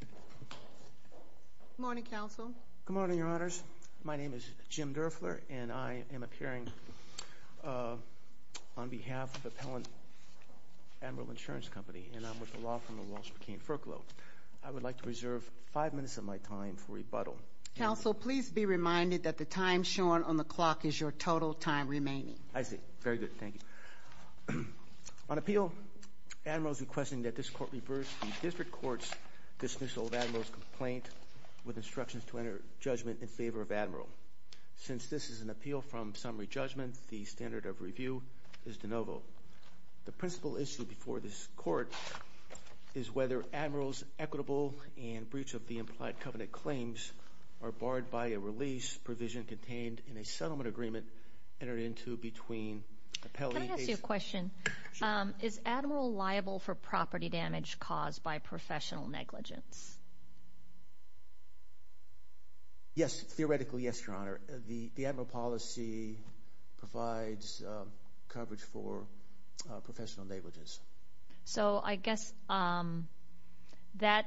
Good morning, Counsel. Good morning, Your Honors. My name is Jim Durfler, and I am appearing on behalf of Appellant Admiral Insurance Company, and I'm with the law firm of Walsh Burkina Furclough. I would like to reserve five minutes of my time for rebuttal. Counsel, please be reminded that the time shown on the clock is your total time remaining. I see. Very good. Thank you. On appeal, Admiral's requesting that this court reverse the district court's dismissal of Admiral's complaint with instructions to enter judgment in favor of Admiral. Since this is an appeal from summary judgment, the standard of review is de novo. The principal issue before this court is whether Admiral's equitable and breach of the implied covenant claims are barred by a release provision contained in a settlement agreement entered into between Appellate and ACE. Can I ask you a question? Sure. Is Admiral liable for property damage caused by professional negligence? Yes. Theoretically, yes, Your Honor. The Admiral policy provides coverage for professional negligence. So I guess that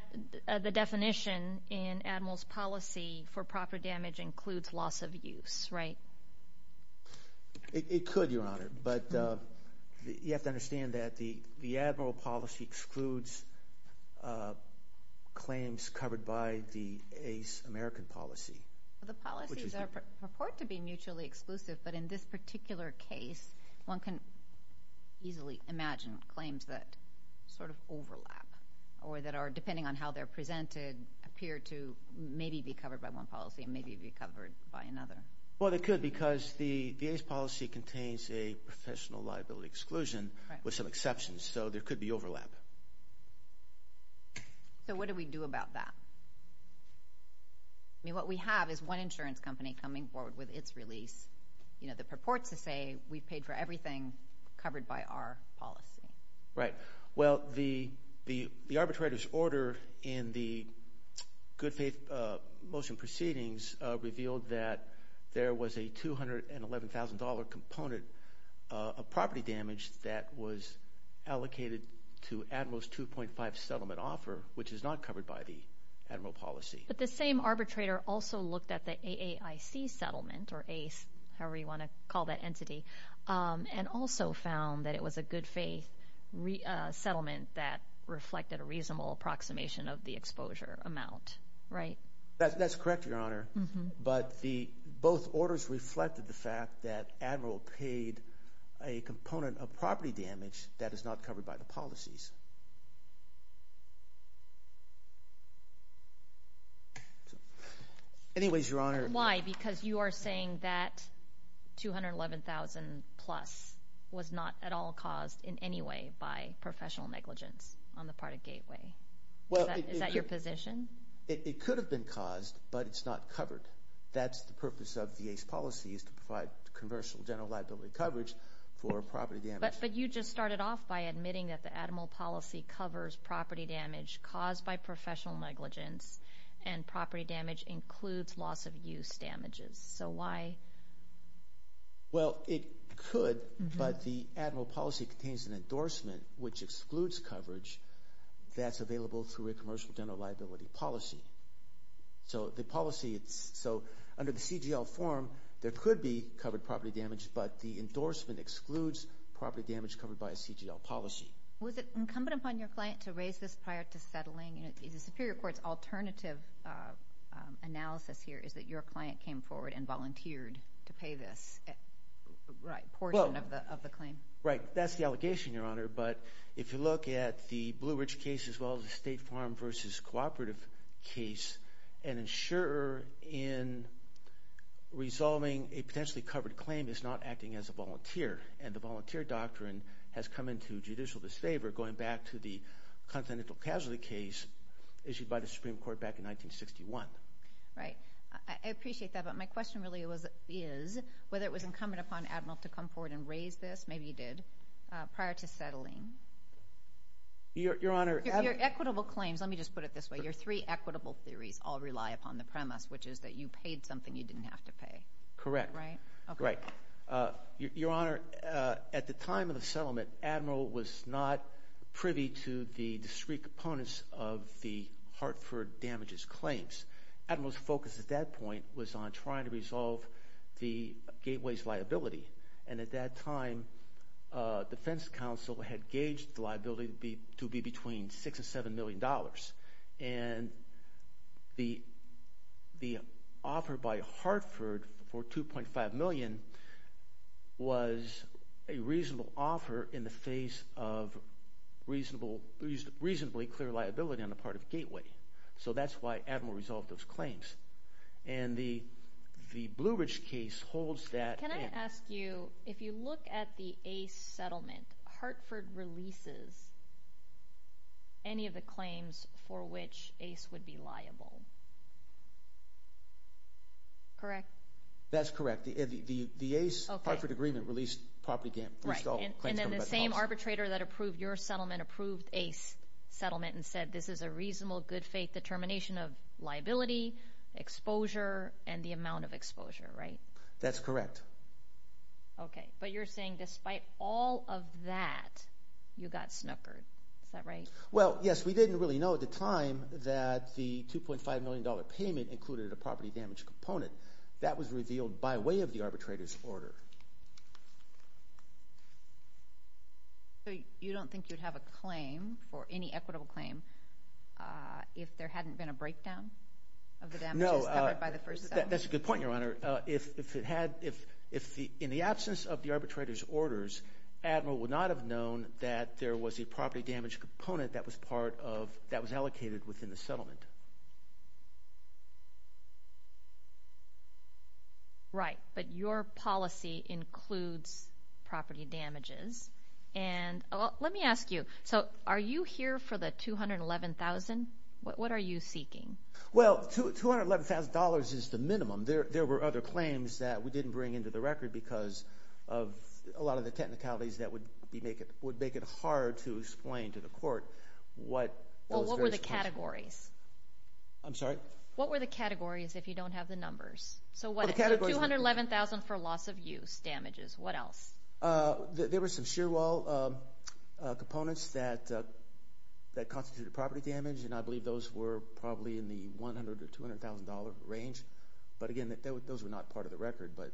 the definition in Admiral's policy for proper damage includes loss of use, right? It could, Your Honor, but you have to understand that the Admiral policy excludes claims covered by the ACE American policy. The policies purport to be mutually exclusive, but in this particular case, one can easily imagine claims that sort of overlap or that are, depending on how they're presented, appear to maybe be covered by one policy and maybe be covered by another. Well, it could because the ACE policy contains a few exceptions, so there could be overlap. So what do we do about that? I mean, what we have is one insurance company coming forward with its release, you know, that purports to say we've paid for everything covered by our policy. Right. Well, the arbitrator's order in the good faith motion proceedings revealed that there was a $211,000 component of property damage that was allocated to Admiral's 2.5 settlement offer, which is not covered by the Admiral policy. But the same arbitrator also looked at the AAIC settlement, or ACE, however you want to call that entity, and also found that it was a good faith settlement that reflected a reasonable approximation of the exposure amount, right? That's correct, Your Honor. But both orders reflected the fact that Admiral paid a component of property damage that is not covered by the policies. Anyways, Your Honor. Why? Because you are saying that $211,000 plus was not at all caused in any way by professional negligence on the Florida Gateway. Is that your position? It could have been caused, but it's not covered. That's the purpose of the ACE policy is to provide commercial general liability coverage for property damage. But you just started off by admitting that the Admiral policy covers property damage caused by professional negligence, and property damage includes loss of use damages. So why? Well, it could, but the Admiral policy contains an endorsement which excludes coverage that's available through a commercial general liability policy. So under the CGL form, there could be covered property damage, but the endorsement excludes property damage covered by a CGL policy. Was it incumbent upon your client to raise this prior to settling? The Superior Court's alternative analysis here is that your client came forward and volunteered to pay this portion of the claim. Right. That's the allegation, Your Honor. But if you look at the Blue Ridge case as well as the State Farm v. Cooperative case, an insurer in resolving a potentially covered claim is not acting as a volunteer, and the volunteer doctrine has come into judicial disfavor going back to the Continental Casualty case issued by the Supreme Court back in 1961. Right. I appreciate that, but my question really is whether it was incumbent upon the Admiral to come forward and raise this, maybe he did, prior to settling. Your Honor... Your equitable claims, let me just put it this way, your three equitable theories all rely upon the premise, which is that you paid something you didn't have to pay. Correct. Right? Right. Your Honor, at the time of the settlement, Admiral was not privy to the discrete components of the Hartford damages claims. Admiral's focus at that point was on trying to resolve the Gateway's liability, and at that time, defense counsel had gauged the liability to be between $6 and $7 million, and the offer by Hartford for $2.5 million was a reasonable offer in the face of reasonably clear liability on part of Gateway. So that's why Admiral resolved those claims. And the Blue Ridge case holds that in. Can I ask you, if you look at the Ace settlement, Hartford releases any of the claims for which Ace would be liable. Correct? That's correct. The Ace Hartford agreement released property damage. Right. And then the same arbitrator that approved your settlement approved Ace settlement and said, this is a reasonable, good faith determination of liability, exposure, and the amount of exposure. Right? That's correct. Okay. But you're saying despite all of that, you got snookered. Is that right? Well, yes. We didn't really know at the time that the $2.5 million payment included a property damage component. That was revealed by way of the arbitrator's order. So you don't think you'd have a claim that for any equitable claim, if there hadn't been a breakdown of the damages covered by the first settlement? No. That's a good point, Your Honor. If it had, if in the absence of the arbitrator's orders, Admiral would not have known that there was a property damage component that was part of, that was allocated within the settlement. Right. But your policy includes property damages. And let me ask you, so are you here for the $211,000? What are you seeking? Well, $211,000 is the minimum. There were other claims that we didn't bring into the record because of a lot of the technicalities that would be make it, would make it hard to explain to the court what... Well, what were the categories? I'm sorry? What were the categories if you don't have the numbers? So what? $211,000 for loss of use damages. What else? There were some shear wall components that constituted property damage, and I believe those were probably in the $100,000 or $200,000 range. But again, those were not part of the record, but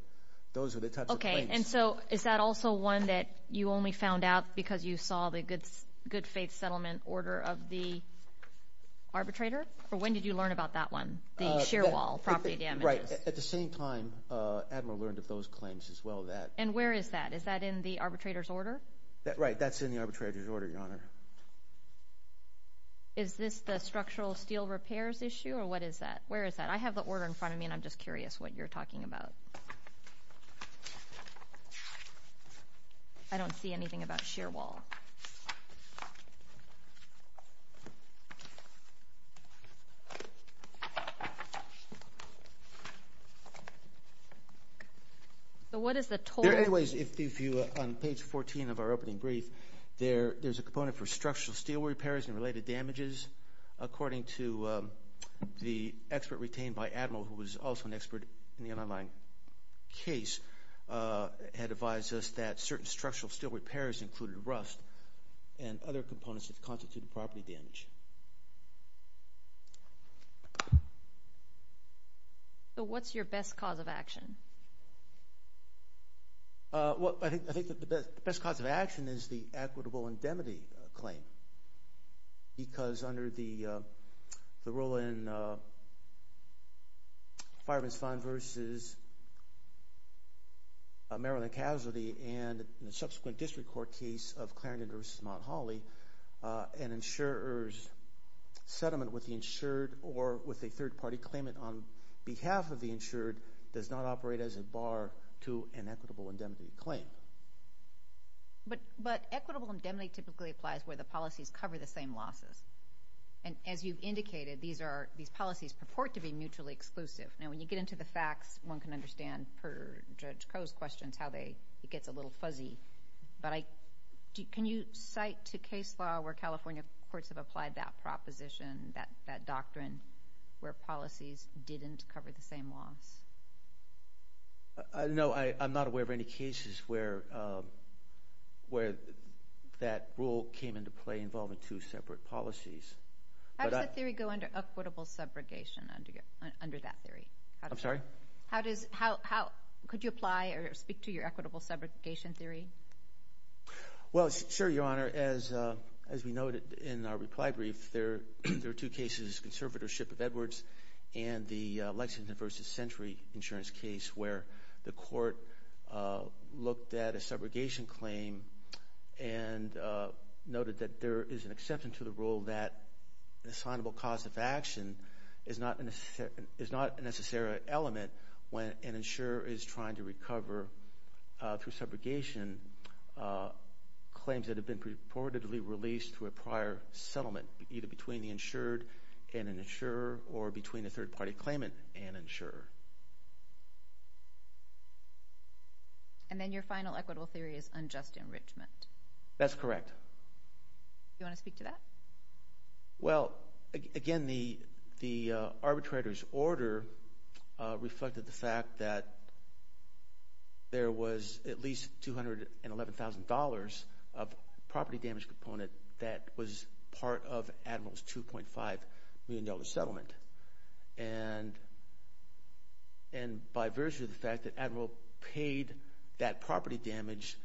those were the types of claims. Okay. And so is that also one that you only found out because you saw the good faith settlement order of the arbitrator? Or when did you learn about that one, the shear wall property damages? Right. At the same time, Admiral learned of those claims as well, that... And where is that? Is that in the arbitrator's order? Right. That's in the arbitrator's order, Your Honor. Is this the structural steel repairs issue or what is that? Where is that? I have the order in front of me and I'm just curious what you're talking about. I don't see anything about shear wall. So what is the total? There are ways if you... On page 14 of our opening brief, there's a component for structural steel repairs and related damages. According to the expert retained by Admiral, who was also an expert in the underlying case, had advised us that certain structural steel repairs included rust and other components that constituted property damage. So what's your best cause of action? Well, I think the best cause of action is the equitable indemnity claim because under the rule in Fireman's Fund versus Maryland Casualty and the subsequent district court case of Clarendon versus Mount Holly, an insurer's settlement with the insured or with a third party claimant on behalf of the insured does not operate as a bar to an equitable indemnity claim. But equitable indemnity typically applies where the policies cover the same losses. And as you've indicated, these policies purport to be mutually exclusive. Now when you get into the facts, one can understand per Judge it gets a little fuzzy. But can you cite to case law where California courts have applied that proposition, that doctrine, where policies didn't cover the same loss? No, I'm not aware of any cases where that rule came into play involving two separate policies. How does the theory go under equitable subrogation, under that theory? I'm sorry? Could you apply or speak to your equitable subrogation theory? Well, sure, Your Honor. As we noted in our reply brief, there are two cases, conservatorship of Edwards and the Lexington versus Century insurance case where the court looked at a subrogation claim and noted that there is an exception to the rule that an assignable cause of action is not a necessary element when an insurer is trying to recover through subrogation claims that have been purportedly released through a prior settlement, either between the insured and an insurer or between a third party claimant and insurer. And then your final equitable theory is unjust enrichment. That's correct. Do you want to speak to that? Well, again, the arbitrator's order reflects the fact that there was at least $211,000 of property damage component that was part of Admiral's $2.5 million settlement. And by virtue of the fact that Admiral paid that property damage,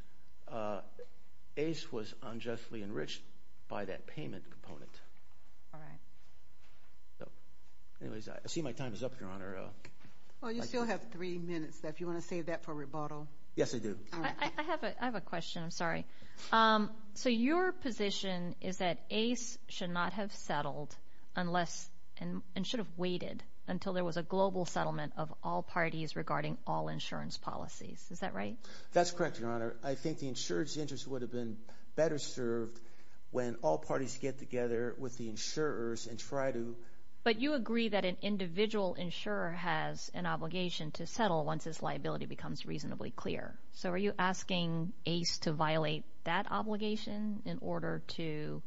Ace was unjustly enriched by that payment component. All right. So, I see my time is up, Your Honor. Well, you still have three minutes left. Do you want to save that for rebuttal? Yes, I do. I have a question. I'm sorry. So, your position is that Ace should not have settled and should have waited until there was a global settlement of all parties regarding all insurance policies. Is that right? That's correct, Your Honor. I think the insurer's interest would have been better served when all parties get together with the insurers and try to... But you agree that an individual insurer has an obligation to settle once his liability becomes reasonably clear. So, are you asking Ace to violate that obligation in order to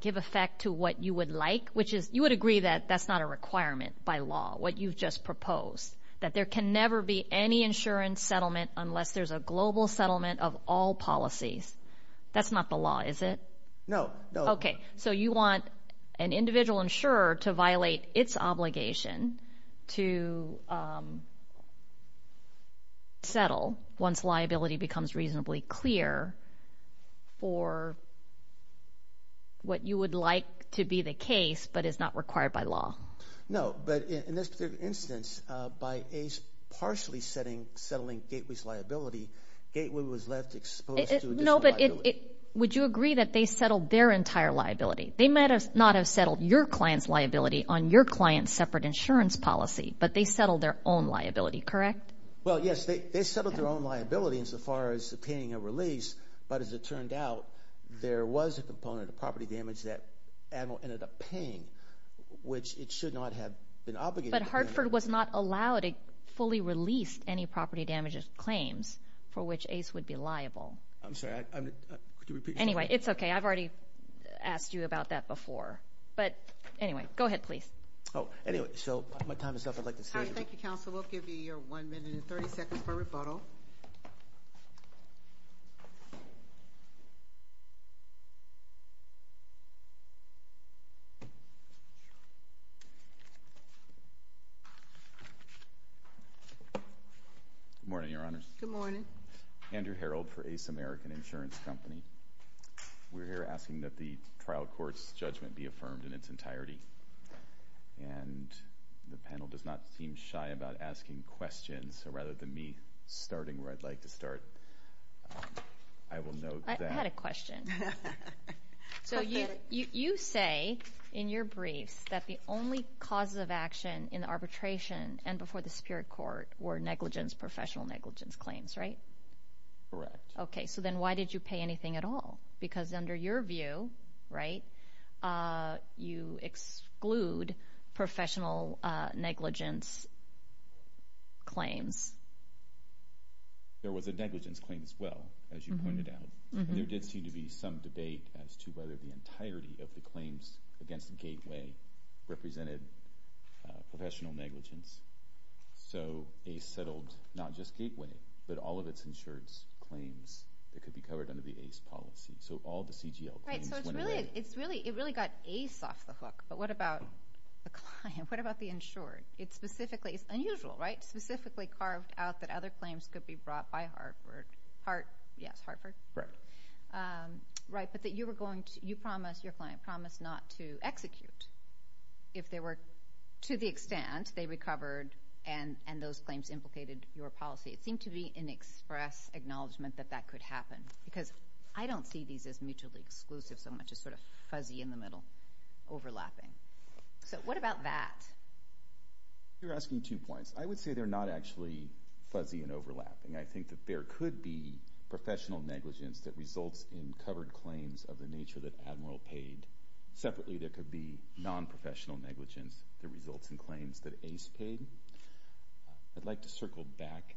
give effect to what you would like? Which is, you would agree that that's not a requirement by law, what you've just proposed, that there can never be any insurance settlement unless there's a global settlement of all policies. That's not the law, is it? No. Okay. So, you want an individual insurer to violate its obligation to settle once liability becomes reasonably clear for what you would like to be the case, but is not required by law. No, but in this particular instance, by Ace partially settling Gateway's liability, Gateway was left exposed to additional liability. No, but would you agree that they settled their entire liability? They might not have settled your client's liability on your client's separate insurance policy, but they settled their own liability, correct? Well, yes, they settled their own liability insofar as paying a release, but as it turned out, there was a component of property damage that Admiral ended up paying, which it should not have been obligated to do. But Hartford was not allowed to fully release any property damage claims for which Ace would be liable. I'm sorry, could you repeat? Anyway, it's okay. I've already asked you about that before. But anyway, go ahead, please. Oh, anyway, so my time is up. I'd like to say... All right, thank you, Counselor. We'll give you your 1 minute and 30 seconds for rebuttal. Good morning, Your Honors. Good morning. Andrew Herold for Ace American Insurance Company. We're here asking that the trial court's judgment be affirmed in its entirety. And the panel does not seem shy about asking questions, so rather than me starting where I'd like to start, I will note that... I had a question. So you say in your briefs that the only causes of action in the arbitration and before the Superior Court were negligence, professional negligence claims, right? Correct. Okay, so then why did you pay anything at all? Because under your view, right, you exclude professional negligence claims. There was a negligence claim as well, as you pointed out. There did seem to be some debate as to whether the entirety of the claims against Gateway represented professional negligence. So Ace settled not just Gateway, but all of its insured claims that could be covered under the Ace policy. So all the CGL claims went away. Right, so it really got Ace off the hook, but what about the client? What about the insured? It's unusual, right? Specifically carved out that other claims could be brought by Hartford. Yes, Hartford. Right, but you promised your client not to execute if they were to the extent they recovered and those claims implicated your policy. It seemed to be an express acknowledgement that that could happen, because I don't see these as mutually exclusive so much as sort of fuzzy in the middle, overlapping. So what about that? You're asking two points. I would say they're not actually fuzzy and overlapping. I think that there could be professional negligence that results in covered claims of the nature that Admiral paid. Separately, there could be non-professional negligence that results in claims that Ace paid. I'd like to circle back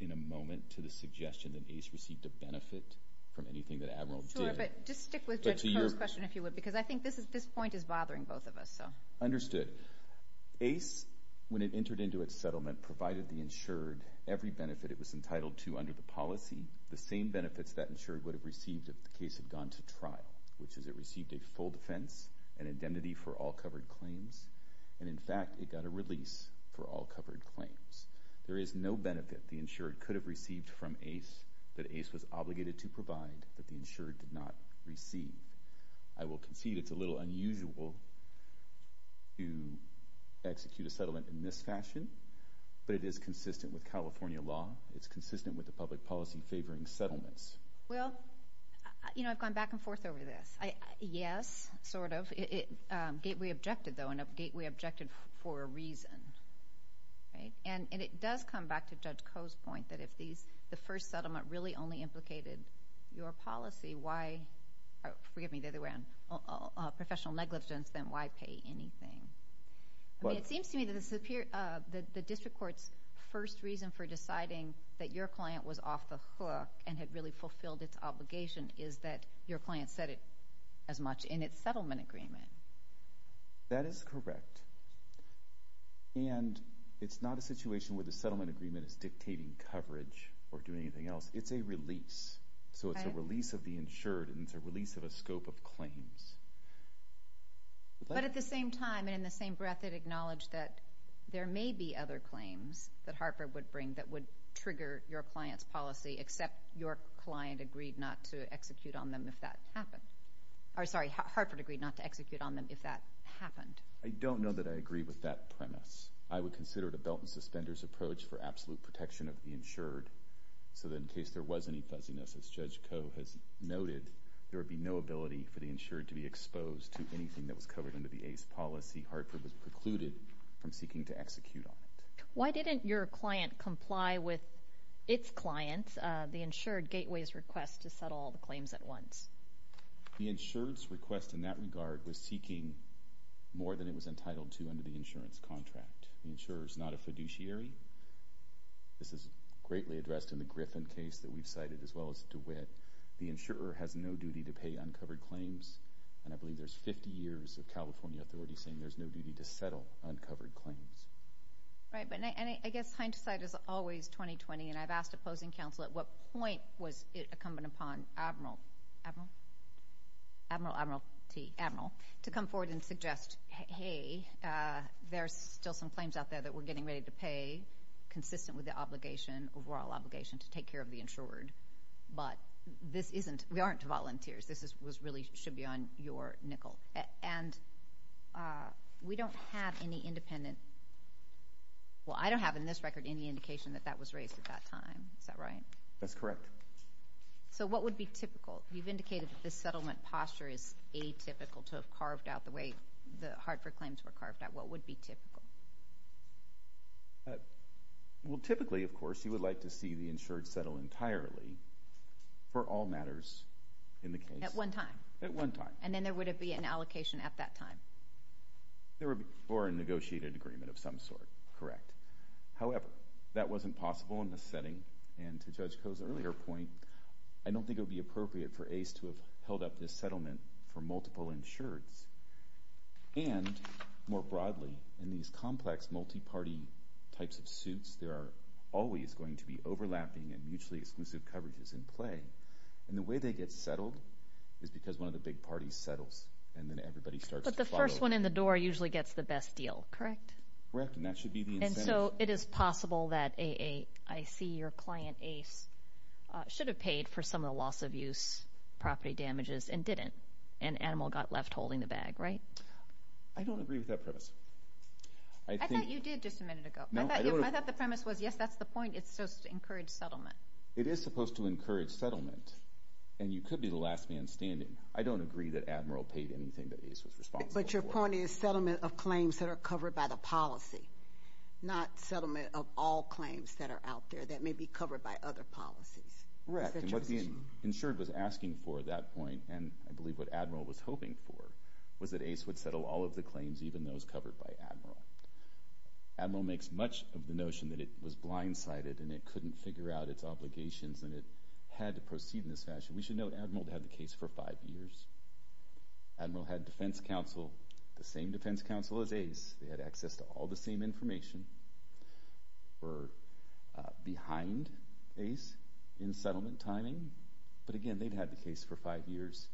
in a moment to the suggestion that Ace received a benefit from anything that Admiral did. Sure, but just stick with Judge Kerr's question, if you would, because I think this point is every benefit it was entitled to under the policy, the same benefits that insured would have received if the case had gone to trial, which is it received a full defense, an identity for all covered claims, and in fact it got a release for all covered claims. There is no benefit the insured could have received from Ace that Ace was obligated to provide that the insured did not receive. I will concede it's a little unusual to execute a settlement in this fashion, but it is consistent with California law. It's consistent with the public policy favoring settlements. Well, you know, I've gone back and forth over this. Yes, sort of. We objected, though, and we objected for a reason. And it does come back to Judge Koh's point that if the first settlement really only implicated your policy, why—forgive me, the other way around—professional negligence, then why pay anything? It seems to me that the district court's first reason for deciding that your client was off the hook and had really fulfilled its obligation is that your client said it as much in its settlement agreement. That is correct. And it's not a situation where the settlement agreement is dictating coverage or doing anything else. It's a release. So it's a release of the insured, and it's a release of a scope of claims. But at the same time, and in the same breath, it acknowledged that there may be other claims that Hartford would bring that would trigger your client's policy, except your client agreed not to execute on them if that happened—or, sorry, Hartford agreed not to execute on them if that happened. I don't know that I agree with that premise. I would consider it a belt-and-suspenders approach for absolute protection of the insured, so that in case there was any fuzziness, as Judge Koh has noted, there would be no ability for the insured to be exposed to anything that was covered under the ACE policy. Hartford was precluded from seeking to execute on it. Why didn't your client comply with its client, the insured, Gateway's request to settle all the claims at once? The insured's request in that regard was seeking more than it was entitled to under the insurance contract. The insurer's not a fiduciary. This is greatly addressed in the Griffin case that we've cited, as well as DeWitt. The insurer has no duty to pay uncovered claims, and I believe there's 50 years of California authorities saying there's no duty to settle uncovered claims. Right, but I guess hindsight is always 20-20, and I've asked opposing counsel, at what point was it incumbent upon Admiral—Admiral? Admiral T.—Admiral, to come forward and suggest, hey, there's still some claims out there that we're getting ready to pay, consistent with the obligation, overall obligation, to take care of the insured, but this isn't—we aren't volunteers. This was really—should be on your nickel. And we don't have any independent—well, I don't have in this record any indication that that was raised at that time. Is that right? That's correct. So what would be typical? You've indicated that this settlement posture is atypical to have carved out the way the Hartford claims were carved out. What would be typical? Well, typically, of course, you would like to see the insured settle entirely for all matters in the case. At one time? At one time. And then there would be an allocation at that time? There would be for a negotiated agreement of some sort, correct. However, that wasn't possible in this setting, and to Judge Koh's earlier point, I don't think it would be appropriate for Ace to have held up this settlement for multiple insureds. And, more broadly, in these complex multi-party types of suits, there are always going to be overlapping and mutually exclusive coverages in play. And the way they get settled is because one of the big parties settles, and then everybody starts to follow. But the first one in the door usually gets the best deal, correct? Correct, and that should be the incentive. And so it is possible that A.A., I.C., your client, Ace, should have paid for some of the loss-of-use property damages and didn't, and Animal got left holding the bag, right? I don't agree with that premise. I thought you did just a minute ago. I thought the premise was, yes, that's the point. It's supposed to encourage settlement. It is supposed to encourage settlement, and you could be the last man standing. I don't agree that Admiral paid anything that Ace was responsible for. But your point is settlement of claims that are covered by the policy, not settlement of all claims that are out there that may be covered by other policies. Correct, and what the insured was asking for at that point, and I believe what Admiral was hoping for, was that Ace would settle all of the claims, even those covered by Admiral. Admiral makes much of the notion that it was blindsided and it couldn't figure out its obligations and it had to proceed in this fashion. We should note Admiral had the case for five years. Admiral had defense counsel, the same defense counsel as Ace. They had access to all the same information. They were behind Ace in settlement timing, but again, they'd had the case for five years,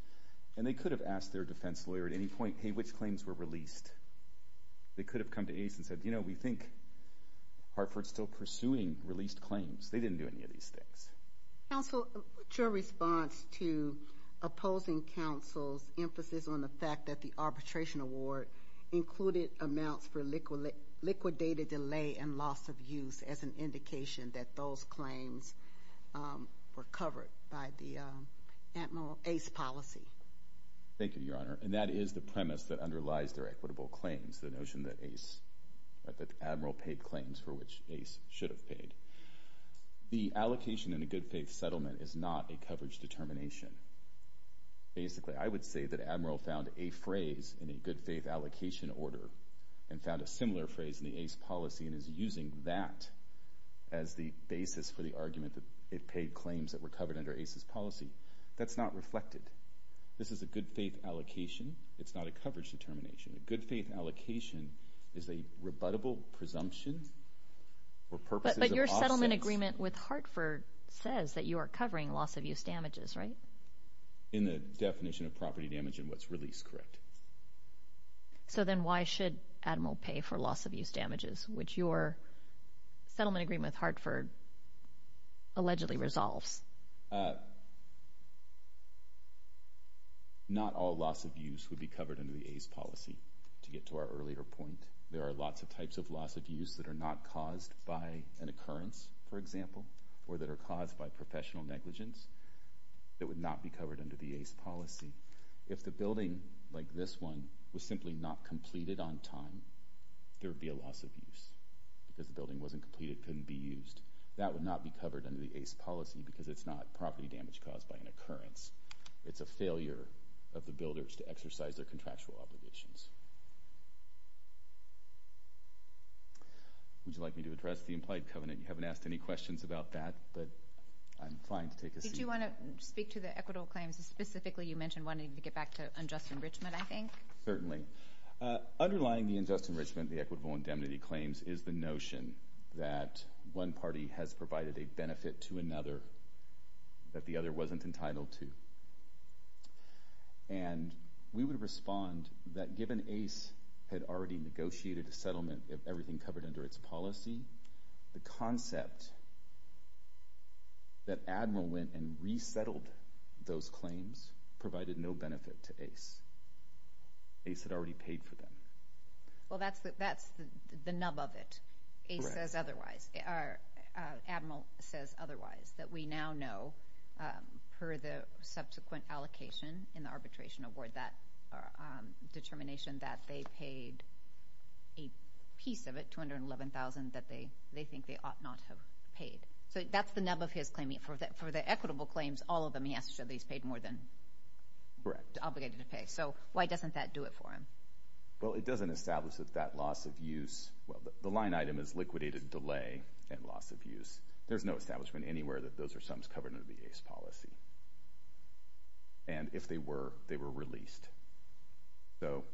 and they could have asked their defense lawyer at any point, hey, which claims were released. They could have come to Ace and said, you know, we think Hartford's still pursuing released claims. They didn't do any of these things. Counsel, your response to opposing counsel's emphasis on the fact that the arbitration award included amounts for liquidated delay and loss of use as an indication that those claims were covered by the Admiral-Ace policy? Thank you, Your Honor, and that is the premise that underlies their equitable claims, the notion that Admiral paid claims for which Ace should have paid. The allocation in a good-faith settlement is not a coverage determination. Basically, I would say that Admiral found a phrase in a good-faith allocation order and found a similar phrase in the Ace policy and is using that as the basis for the argument that it paid claims that were covered under Ace's policy. That's not reflected. This is a good-faith allocation. It's not a coverage determination. A good-faith allocation is a rebuttable presumption or purposes of absence. But your settlement agreement with Hartford says that you are covering loss of use damages, right? In the definition of property damage and what's released, correct. So then why should Admiral pay for loss of use damages, which your settlement agreement with Hartford allegedly resolves? Not all loss of use would be covered under the Ace policy, to get to our earlier point. There are lots of types of loss of use that are not caused by an occurrence, for example, or that are caused by professional negligence that would not be covered under the Ace policy. If the building like this one was simply not completed on time, there would be a loss of use because the building wasn't completed, couldn't be used. That would not be covered under the Ace policy because it's not property damage caused by an occurrence. It's a failure of the builders to exercise their contractual obligations. Would you like me to address the implied covenant? You haven't asked any questions about that, but I'm fine to take a seat. Did you want to speak to the equitable claims specifically? You mentioned wanting to get back to unjust enrichment, I think. Certainly. Underlying the unjust enrichment, the equitable indemnity claims, is the notion that one party has provided a benefit to another that the other wasn't entitled to. And we would respond that given Ace had already negotiated a settlement, everything covered under its policy, the concept that Admiral went and resettled those claims provided no benefit to Ace. Ace had already paid for them. Well, that's the nub of it. Correct. Ace says otherwise. Admiral says otherwise. That we now know, per the subsequent allocation in the arbitration award, that determination that they paid a piece of it, $211,000, that they think they ought not have paid. So that's the nub of his claiming. For the equitable claims, all of them, he has to show that he's paid more than obligated to pay. So why doesn't that do it for him? Well, it doesn't establish that that loss of use – well, the line item is liquidated delay and loss of use. There's no establishment anywhere that those are sums covered under the Ace policy. And if they were, they were released. So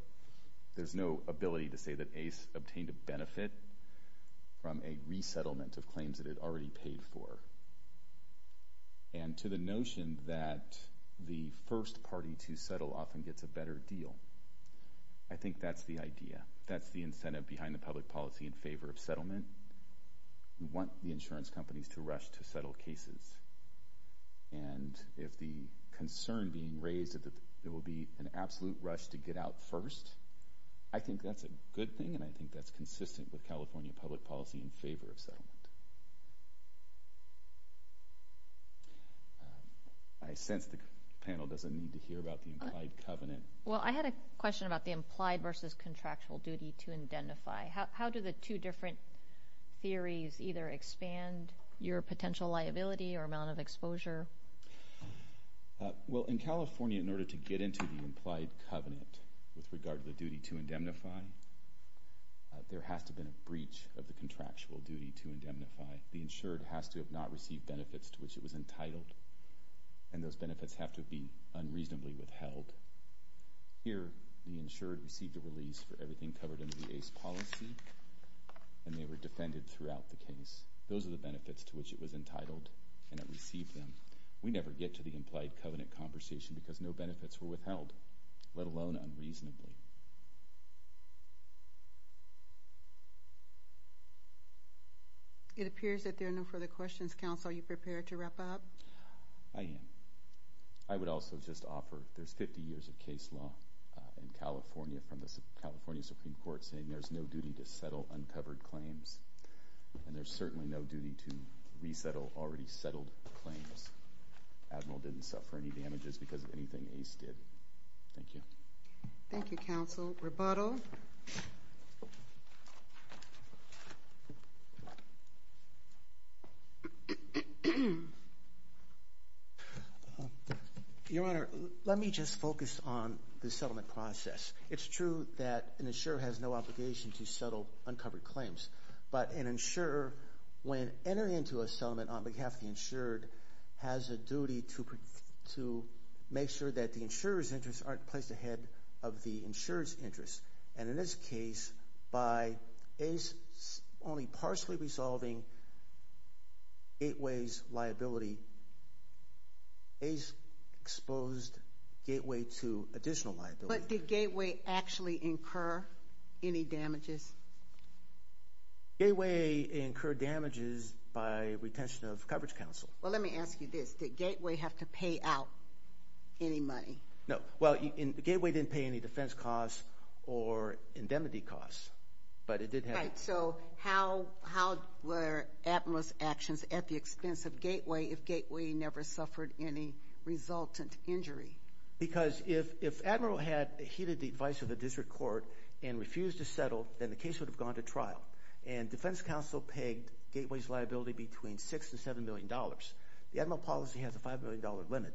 there's no ability to say that Ace obtained a benefit from a resettlement of claims that it had already paid for. And to the notion that the first party to settle often gets a better deal, I think that's the idea. That's the incentive behind the public policy in favor of settlement. We want the insurance companies to rush to settle cases. And if the concern being raised that there will be an absolute rush to get out first, I think that's a good thing, and I think that's consistent with California public policy in favor of settlement. I sense the panel doesn't need to hear about the implied covenant. Well, I had a question about the implied versus contractual duty to identify. How do the two different theories either expand your potential liability or amount of exposure? Well, in California, in order to get into the implied covenant with regard to the duty to indemnify, there has to have been a breach of the contractual duty to indemnify. The insured has to have not received benefits to which it was entitled, and those benefits have to be unreasonably withheld. Here, the insured received a release for everything covered under the ACE policy, and they were defended throughout the case. Those are the benefits to which it was entitled, and it received them. We never get to the implied covenant conversation because no benefits were withheld, let alone unreasonably. It appears that there are no further questions. Counsel, are you prepared to wrap up? I am. I would also just offer there's 50 years of case law in California from the California Supreme Court saying there's no duty to settle uncovered claims, and there's certainly no duty to resettle already settled claims. Admiral didn't suffer any damages because of anything ACE did. Thank you. Thank you, Counsel. Rebuttal. Your Honor, let me just focus on the settlement process. It's true that an insurer has no obligation to settle uncovered claims, but an insurer, when entering into a settlement on behalf of the insured, has a duty to make sure that the insurer's interests aren't placed ahead of the insurer's interests, and in this case, by ACE only partially resolving Gateway's liability, ACE exposed Gateway to additional liability. But did Gateway actually incur any damages? Gateway incurred damages by retention of coverage, Counsel. Well, let me ask you this. Did Gateway have to pay out any money? No. Well, Gateway didn't pay any defense costs or indemnity costs, but it did have to. Right. So how were Admiral's actions at the expense of Gateway if Gateway never suffered any resultant injury? Because if Admiral had heeded the advice of the district court and refused to settle, then the case would have gone to trial, and defense counsel paid Gateway's liability between $6 million and $7 million. The Admiral policy has a $5 million limit.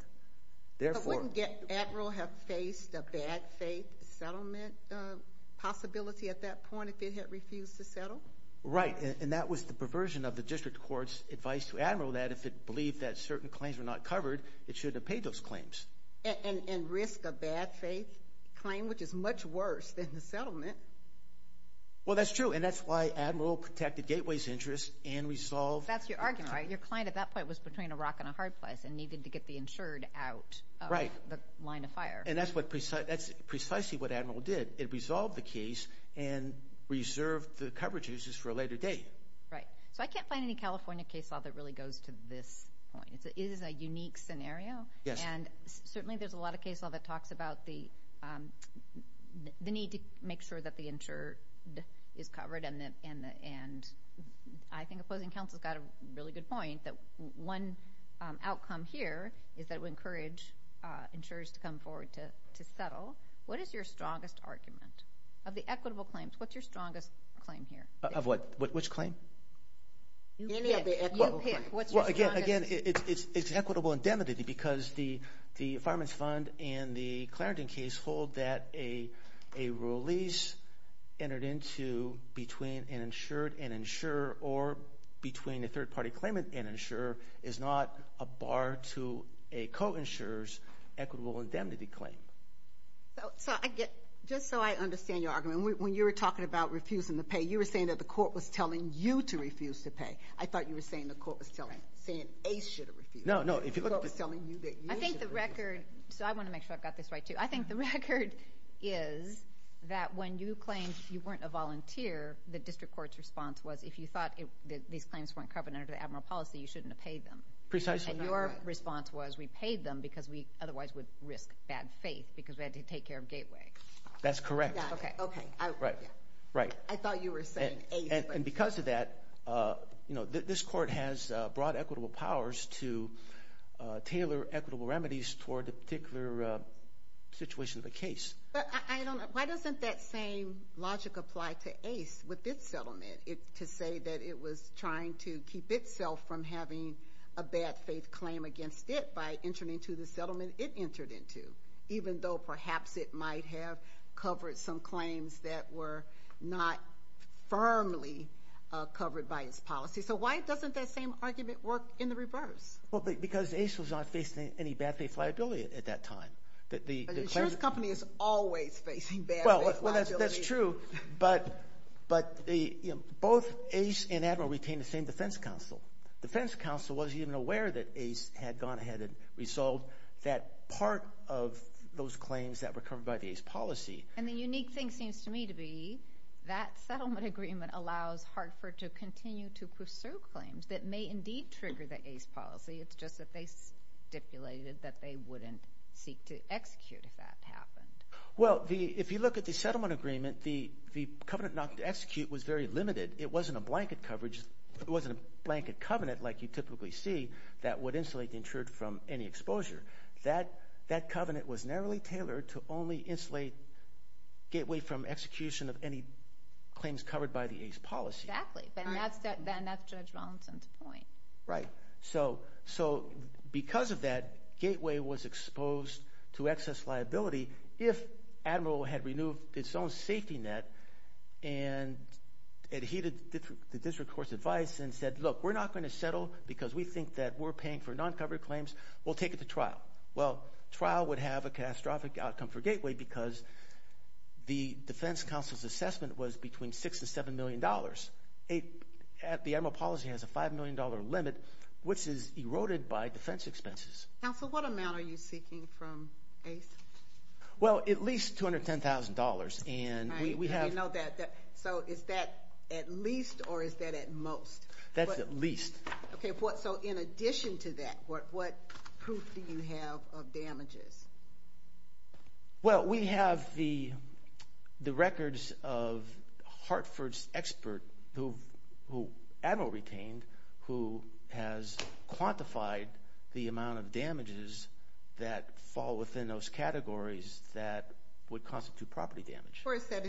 So wouldn't Admiral have faced a bad-faith settlement possibility at that point if it had refused to settle? Right, and that was the perversion of the district court's advice to Admiral that if it believed that certain claims were not covered, it should have paid those claims. And risk a bad-faith claim, which is much worse than the settlement. Well, that's true, and that's why Admiral protected Gateway's interests and resolved Gateway. That's your argument, right? Well, your client at that point was between a rock and a hard place and needed to get the insured out of the line of fire. Right, and that's precisely what Admiral did. It resolved the case and reserved the coverage uses for a later date. Right. So I can't find any California case law that really goes to this point. It is a unique scenario. Yes. And certainly there's a lot of case law that talks about the need to make sure that the insured is covered, and I think Opposing Counsel's got a really good point that one outcome here is that it would encourage insurers to come forward to settle. What is your strongest argument? Of the equitable claims, what's your strongest claim here? Of what? Which claim? Any of the equitable claims. Well, again, it's equitable indemnity because the Fireman's Fund and the Clarendon case are told that a release entered into between an insured and insurer or between a third-party claimant and insurer is not a bar to a co-insurer's equitable indemnity claim. So just so I understand your argument, when you were talking about refusing to pay, you were saying that the court was telling you to refuse to pay. I thought you were saying the court was telling ACE should have refused. No, no. The court was telling you that you should have refused. I think the record, so I want to make sure I've got this right, too. I think the record is that when you claimed you weren't a volunteer, the district court's response was if you thought these claims weren't covered under the admiral policy, you shouldn't have paid them. Precisely. And your response was we paid them because we otherwise would risk bad faith because we had to take care of Gateway. That's correct. Okay. Right. I thought you were saying ACE. And because of that, this court has broad equitable powers to tailor equitable remedies toward a particular situation of a case. But I don't know. Why doesn't that same logic apply to ACE with its settlement? To say that it was trying to keep itself from having a bad faith claim against it by entering into the settlement it entered into, even though perhaps it might have covered some claims that were not firmly covered by its policy. So why doesn't that same argument work in the reverse? Well, because ACE was not facing any bad faith liability at that time. The insurance company is always facing bad faith liability. Well, that's true, but both ACE and Admiral retained the same defense counsel. Defense counsel wasn't even aware that ACE had gone ahead and resolved that part of those claims that were covered by the ACE policy. And the unique thing seems to me to be that settlement agreement allows Hartford to continue to pursue claims that may indeed trigger the ACE policy. It's just that they stipulated that they wouldn't seek to execute if that happened. Well, if you look at the settlement agreement, the covenant not to execute was very limited. It wasn't a blanket covenant like you typically see that would insulate the insured from any exposure. That covenant was narrowly tailored to only insulate gateway from execution of any claims covered by the ACE policy. Exactly. Then that's Judge Rollinson's point. Right. So because of that, gateway was exposed to excess liability if Admiral had renewed its own safety net and adhered to the district court's advice and said, look, we're not going to settle because we think that we're paying for non-covered claims. We'll take it to trial. Well, trial would have a catastrophic outcome for gateway because the defense counsel's assessment was between $6 and $7 million. The Admiral policy has a $5 million limit, which is eroded by defense expenses. Counsel, what amount are you seeking from ACE? Well, at least $210,000. Right. We know that. So is that at least or is that at most? That's at least. Okay. So in addition to that, what proof do you have of damages? Well, we have the records of Hartford's expert who Admiral retained who has quantified the amount of damages that fall within those categories that would constitute property damage. Where is that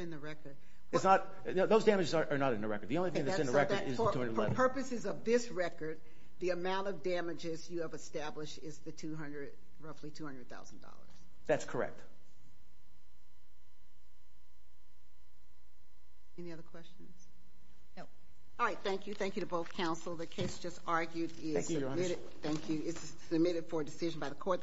in the record? Those damages are not in the record. The only thing that's in the record is the $211,000. For purposes of this record, the amount of damages you have established is roughly $200,000. That's correct. Any other questions? No. All right. Thank you. Thank you to both counsel. The case just argued is submitted for decision by the court.